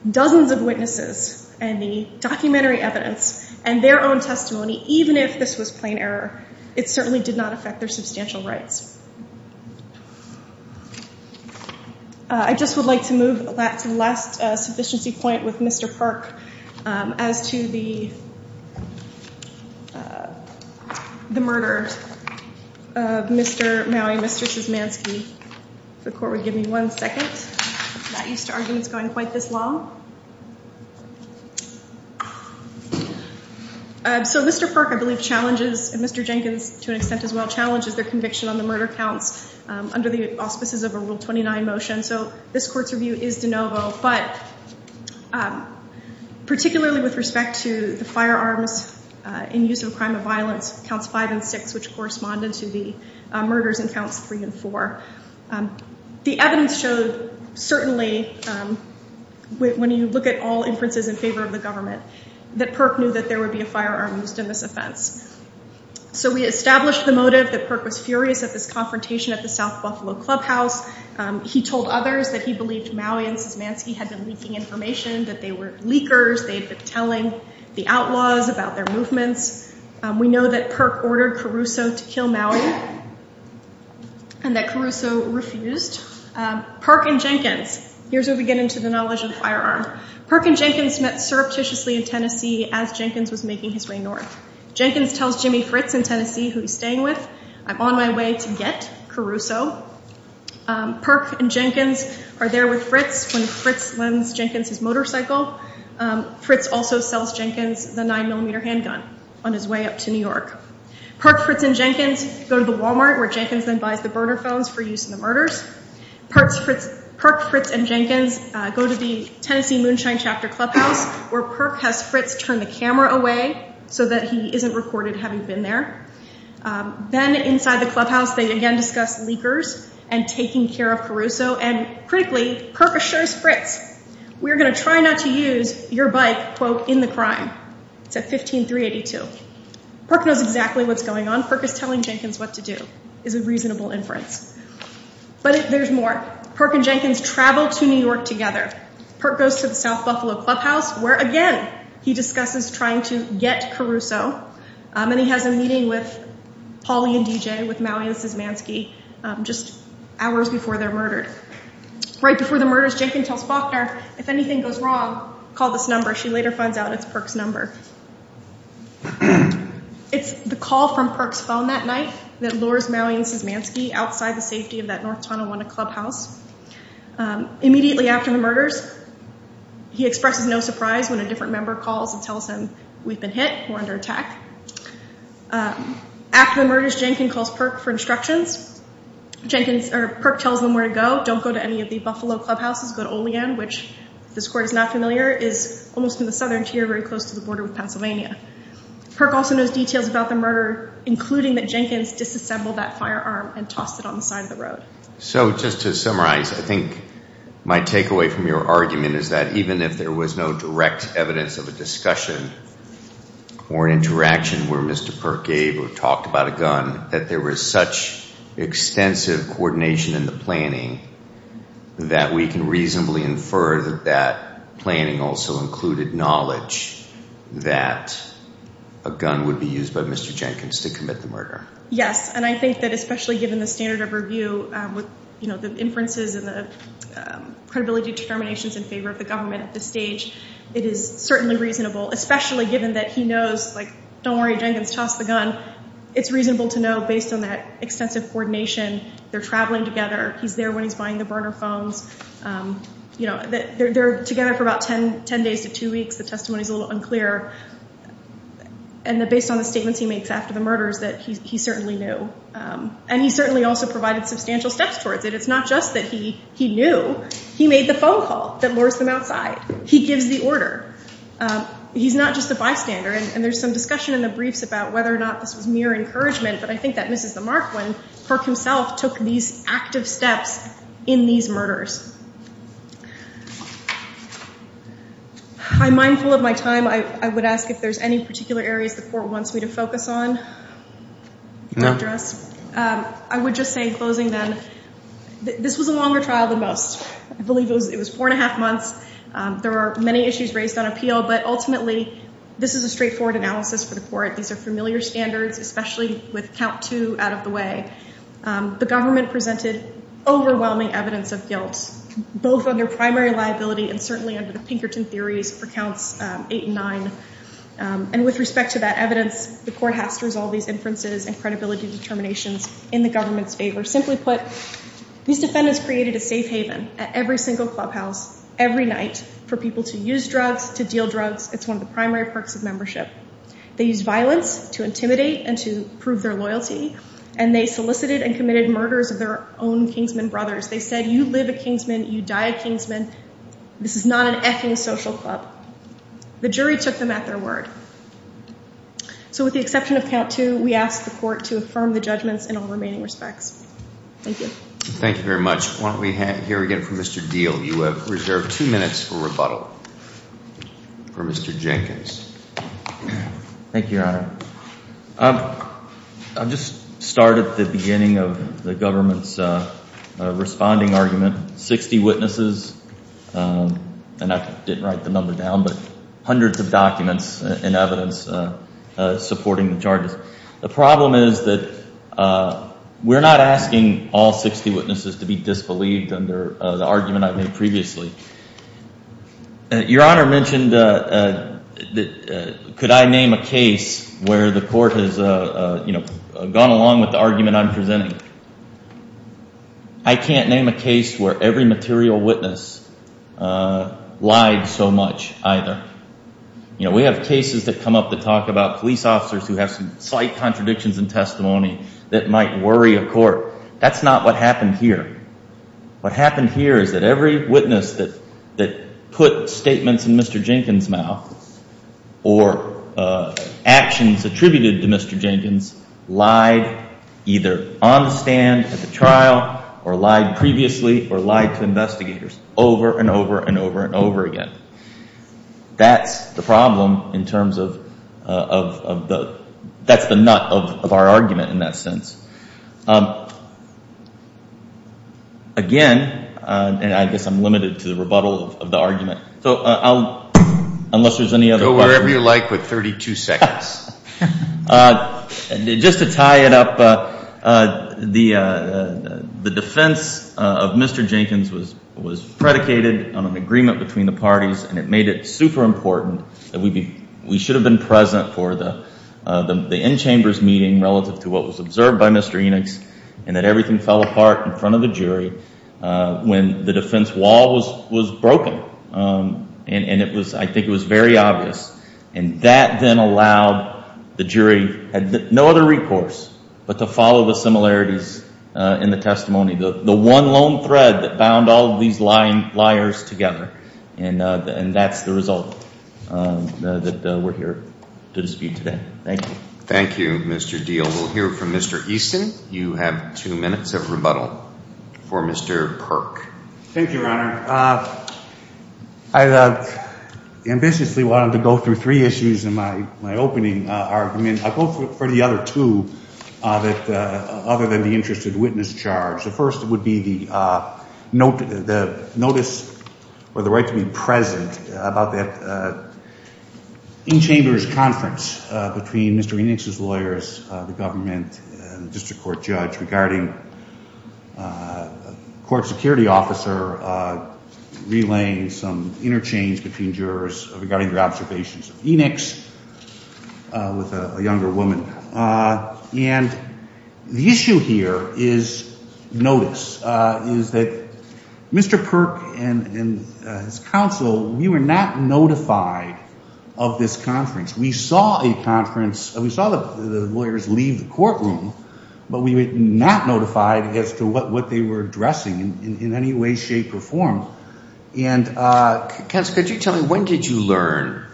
dozens of witnesses and the documentary evidence and their own testimony, even if this was plain error, it certainly did not affect their substantial rights. I just would like to move to the last sufficiency point with Mr. Perk as to the murder of Mr. Mowrey and Mr. Szymanski. If the court would give me one second. I'm not used to arguments going quite this long. So Mr. Perk, I believe, challenges, and Mr. Jenkins, to an extent, as well, challenges their conviction on the murder counts under the auspices of a Rule 29 motion. So this court's review is de novo. But particularly with respect to the firearms in use of a crime of violence, counts 5 and 6, which corresponded to the murders in counts 3 and 4, the evidence showed, certainly, when you look at all inferences in favor of the government, that Perk knew that there would be a firearm used in this offense. So we established the motive that Perk was furious at this confrontation at the South Buffalo Clubhouse. He told others that he believed Mowrey and Szymanski had been leaking information, that they were leakers, they'd been telling the outlaws about their movements. We know that Perk ordered Caruso to kill Mowrey and that Caruso refused. Perk and Jenkins, here's where we get into the knowledge of the firearm. Perk and Jenkins met surreptitiously in Tennessee as Jenkins was making his way north. Jenkins tells Jimmy Fritz in Tennessee, who he's staying with, I'm on my way to get Caruso. Perk and Jenkins are there with Fritz when Fritz lends Jenkins his motorcycle. Fritz also sells Jenkins the 9-millimeter handgun on his way up to New York. Perk, Fritz, and Jenkins go to the Walmart, where Jenkins then buys the burner phones for use in the murders. Perk, Fritz, and Jenkins go to the Tennessee Moonshine Chapter Clubhouse, where Perk has Fritz turn the camera away so that he isn't recorded having been there. Then inside the clubhouse, they again discuss leakers and taking care of Caruso. And critically, Perk assures Fritz, we're going to try not to use your bike, quote, in the crime. It's at 15382. Perk knows exactly what's going on. Perk is telling Jenkins what to do. It's a reasonable inference. But there's more. Perk and Jenkins travel to New York together. Perk goes to the South Buffalo Clubhouse, where again, he discusses trying to get Caruso. And he has a meeting with Polly and DJ, with Maui and Szymanski, just hours before they're murdered. Right before the murders, Jenkins tells Faulkner, if anything goes wrong, call this number. She later finds out it's Perk's number. It's the call from Perk's phone that night that lures Maui and Szymanski outside the safety of that North Tonawanda Clubhouse. Immediately after the murders, he expresses no surprise when a different member calls and tells him we've been hit, we're under attack. After the murders, Jenkins calls Perk for instructions. Perk tells them where to go. Don't go to any of the Buffalo Clubhouses. Go to Olean, which, if this court is not familiar, is almost in the southern tier, very close to the border with Pennsylvania. Perk also knows details about the murder, including that Jenkins disassembled that firearm and tossed it on the side of the road. So just to summarize, I think my takeaway from your argument is that even if there was no direct evidence of a discussion or an interaction where Mr. Perk gave or talked about a gun, that there was such extensive coordination in the planning that we can reasonably infer that that planning also included knowledge that a gun would be used by Mr. Jenkins to commit the murder. Yes, and I think that especially given the standard of review with the inferences and the credibility determinations in favor of the government at this stage, it is certainly reasonable, especially given that he knows, like, don't worry, Jenkins tossed the gun. It's reasonable to know, based on that extensive coordination, they're traveling together. He's there when he's buying the burner phones. They're together for about 10 days to two weeks. The testimony is a little unclear. And based on the statements he makes after the murders, that he certainly knew. And he certainly also provided substantial steps towards it. It's not just that he knew. He made the phone call that lures them outside. He gives the order. He's not just a bystander. And there's some discussion in the briefs about whether or not this was mere encouragement. But I think that misses the mark when Perk himself took these active steps in these murders. I'm mindful of my time. I would ask if there's any particular areas the court wants me to focus on. No. I would just say, closing then, this was a longer trial than most. I believe it was four and a half months. There are many issues raised on appeal. But ultimately, this is a straightforward analysis for the court. These are familiar standards, especially with count two out of the way. The government presented overwhelming evidence of guilt, both on their primary liability and certainly under the Pinkerton theories for counts eight and nine. And with respect to that evidence, the court has to resolve these inferences and credibility determinations in the government's favor. Simply put, these defendants created a safe haven at every single clubhouse every night for people to use drugs, to deal drugs. It's one of the primary perks of membership. They used violence to intimidate and to prove their loyalty. And they solicited and committed murders of their own Kingsman brothers. They said, you live a Kingsman. You die a Kingsman. This is not an effing social club. The jury took them at their word. So with the exception of count two, we ask the court to affirm the judgments in all remaining respects. Thank you. Thank you very much. Why don't we hear again from Mr. Diehl. You have reserved two minutes for rebuttal. For Mr. Jenkins. Thank you, Your Honor. I'll just start at the beginning of the government's responding argument. 60 witnesses, and I didn't write the number down, but hundreds of documents and evidence supporting the charges. The problem is that we're not asking all 60 witnesses to be disbelieved under the argument I made previously. Your Honor mentioned that could I name a case where the court has gone along with the argument I'm presenting. I can't name a case where every material witness lied so much. You know, we have cases that come up that talk about police officers who have some slight contradictions in testimony that might worry a court. That's not what happened here. What happened here is that every witness that put statements in Mr. Jenkins' mouth or actions attributed to Mr. Jenkins lied either on the stand at the trial, or lied previously, or lied to investigators over and over and over and over again. That's the problem in terms of the nut of our argument in that sense. Again, and I guess I'm limited to the rebuttal of the argument, so I'll, unless there's any other questions. Go wherever you like with 32 seconds. Just to tie it up, the defense of Mr. Jenkins was predicated on an agreement between the parties, and it made it super important that we should have been present for the in-chambers meeting relative to what was observed by Mr. Enix, and that everything fell apart in front of the jury when the defense wall was broken. And I think it was very obvious. And that then allowed the jury, had no other recourse but to follow the similarities in the testimony. The one lone thread that bound all of these liars together. And that's the result that we're here to dispute today. Thank you. Thank you, Mr. Diehl. We'll hear from Mr. Easton. You have two minutes of rebuttal for Mr. Perk. Thank you, Your Honor. I ambitiously wanted to go through three issues in my opening argument. I'll go for the other two, other than the interest of witness charge. The first would be the notice, or the right to be present, about that in-chambers conference between Mr. Enix's lawyers, the government and the district court judge, regarding a court security officer relaying some interchange between jurors regarding their observations of Enix with a younger woman. And the issue here is notice, is that Mr. Perk and his counsel, we were not notified of this conference. We saw a conference. We saw the lawyers leave the courtroom, but we were not notified as to what they were addressing in any way, shape, or form. And counsel, could you tell me, when did you learn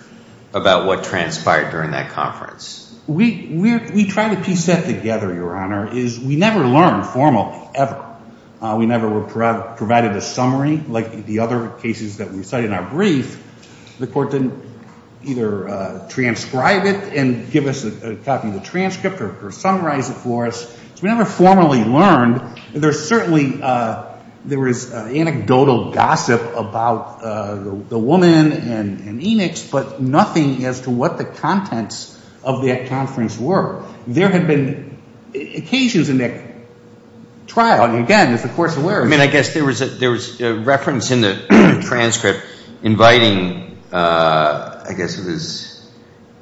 about what transpired during that conference? We try to piece that together, Your Honor, is we never learned formally, ever. We never were provided a summary like the other cases that we cited in our brief. The court didn't either transcribe it and give us a copy of the transcript or summarize it for us. So we never formally learned. There's certainly anecdotal gossip about the woman and Enix, but nothing as to what the contents of that conference were. There had been occasions in that trial, and again, as the court's aware of. I mean, I guess there was a reference in the transcript inviting, I guess it was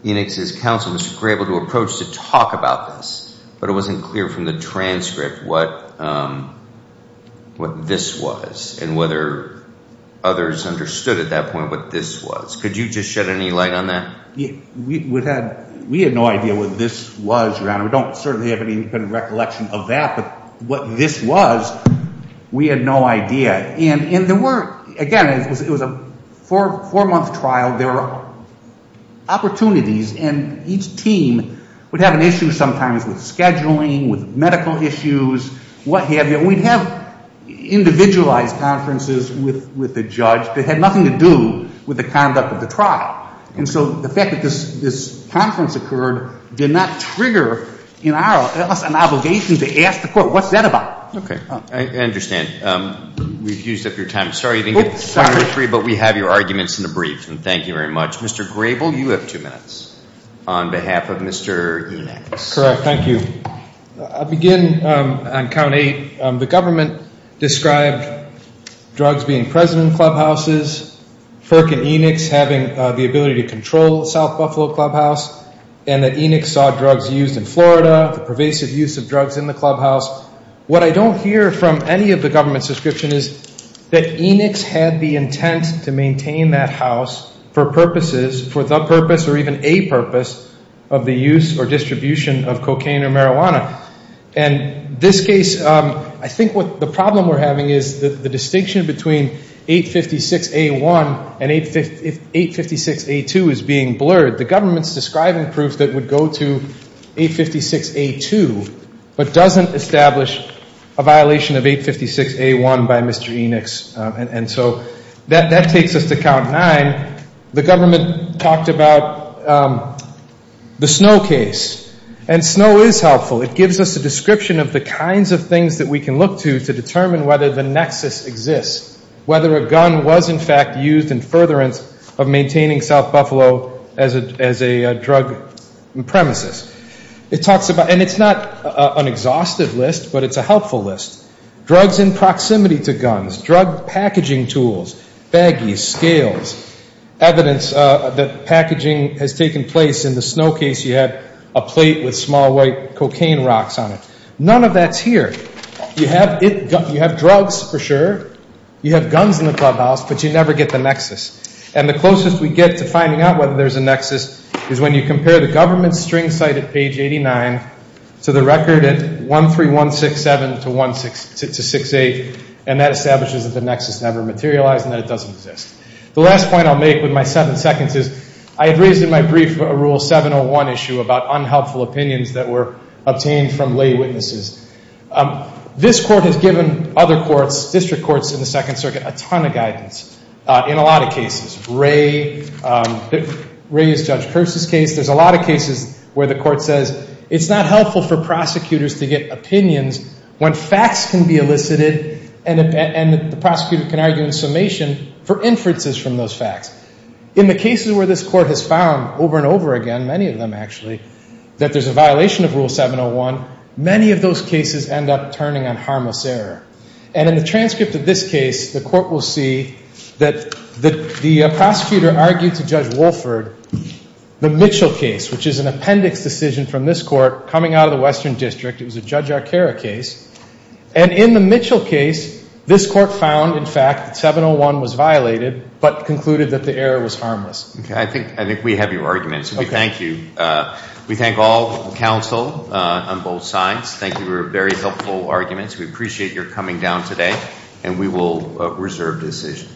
Enix's counsel, Mr. Grable, to approach to talk about this. But it wasn't clear from the transcript what this was and whether others understood at that point what this was. Could you just shed any light on that? We had no idea what this was, Your Honor. We don't certainly have any recollection of that. But what this was, we had no idea. And again, it was a four-month trial. There were opportunities, and each team would have an issue sometimes with scheduling, with medical issues, what have you. We'd have individualized conferences with the judge that had nothing to do with the conduct of the trial. And so the fact that this conference occurred did not trigger in our office an obligation to ask the court, what's that about? OK, I understand. We've used up your time. Sorry you didn't get time for three, but we have your arguments in the briefs, and thank you very much. Mr. Grable, you have two minutes on behalf of Mr. Enix. Correct, thank you. I'll begin on count eight. The government described drugs being present in clubhouses, FERC and Enix having the ability to control South Buffalo Clubhouse, and that Enix saw drugs used in Florida, the pervasive use of drugs in the clubhouse. What I don't hear from any of the government's description is that Enix had the intent to maintain that house for purposes, for the purpose or even a purpose, of the use or distribution of cocaine or marijuana. And this case, I think what the problem we're having is the distinction between 856A1 and 856A2 is being blurred. The government's describing proof that would go to 856A2, but doesn't establish a violation of 856A1 by Mr. Enix. And so that takes us to count nine. The government talked about the snow case. And snow is helpful. It gives us a description of the kinds of things that we can look to to determine whether the nexus exists, whether a gun was, in fact, used in furtherance of maintaining South Buffalo as a drug premises. And it's not an exhaustive list, but it's a helpful list. Drugs in proximity to guns, drug packaging tools, baggies, scales, evidence that packaging has taken place in the snow case, you have a plate with small white cocaine rocks on it. None of that's here. You have drugs, for sure. You have guns in the clubhouse, but you never get the nexus. And the closest we get to finding out whether there's a nexus is when you compare the government's string cited page 89 to the record at 13167 to 1668. And that establishes that the nexus never materialized and that it doesn't exist. The last point I'll make with my seven seconds is I had raised in my brief a rule 701 issue about unhelpful opinions that were obtained from lay witnesses. This court has given other courts, district courts in the Second Circuit, a ton of guidance in a lot of cases. Ray, Ray's Judge Kearse's case. There's a lot of cases where the court says it's not helpful for prosecutors to get opinions when facts can be elicited and the prosecutor can argue in summation for inferences from those facts. In the cases where this court has found over and over again, many of them actually, that there's a violation of rule 701, many of those cases end up turning on harmless error. And in the transcript of this case, the court will see that the prosecutor argued to Judge Wolford the Mitchell case, which is an appendix decision from this court coming out of the Western District. And in the Mitchell case, this court found, in fact, 701 was violated, but concluded that the error was harmless. I think we have your arguments, and we thank you. We thank all counsel on both sides. Thank you for your very helpful arguments. We appreciate your coming down today, and we will reserve decision.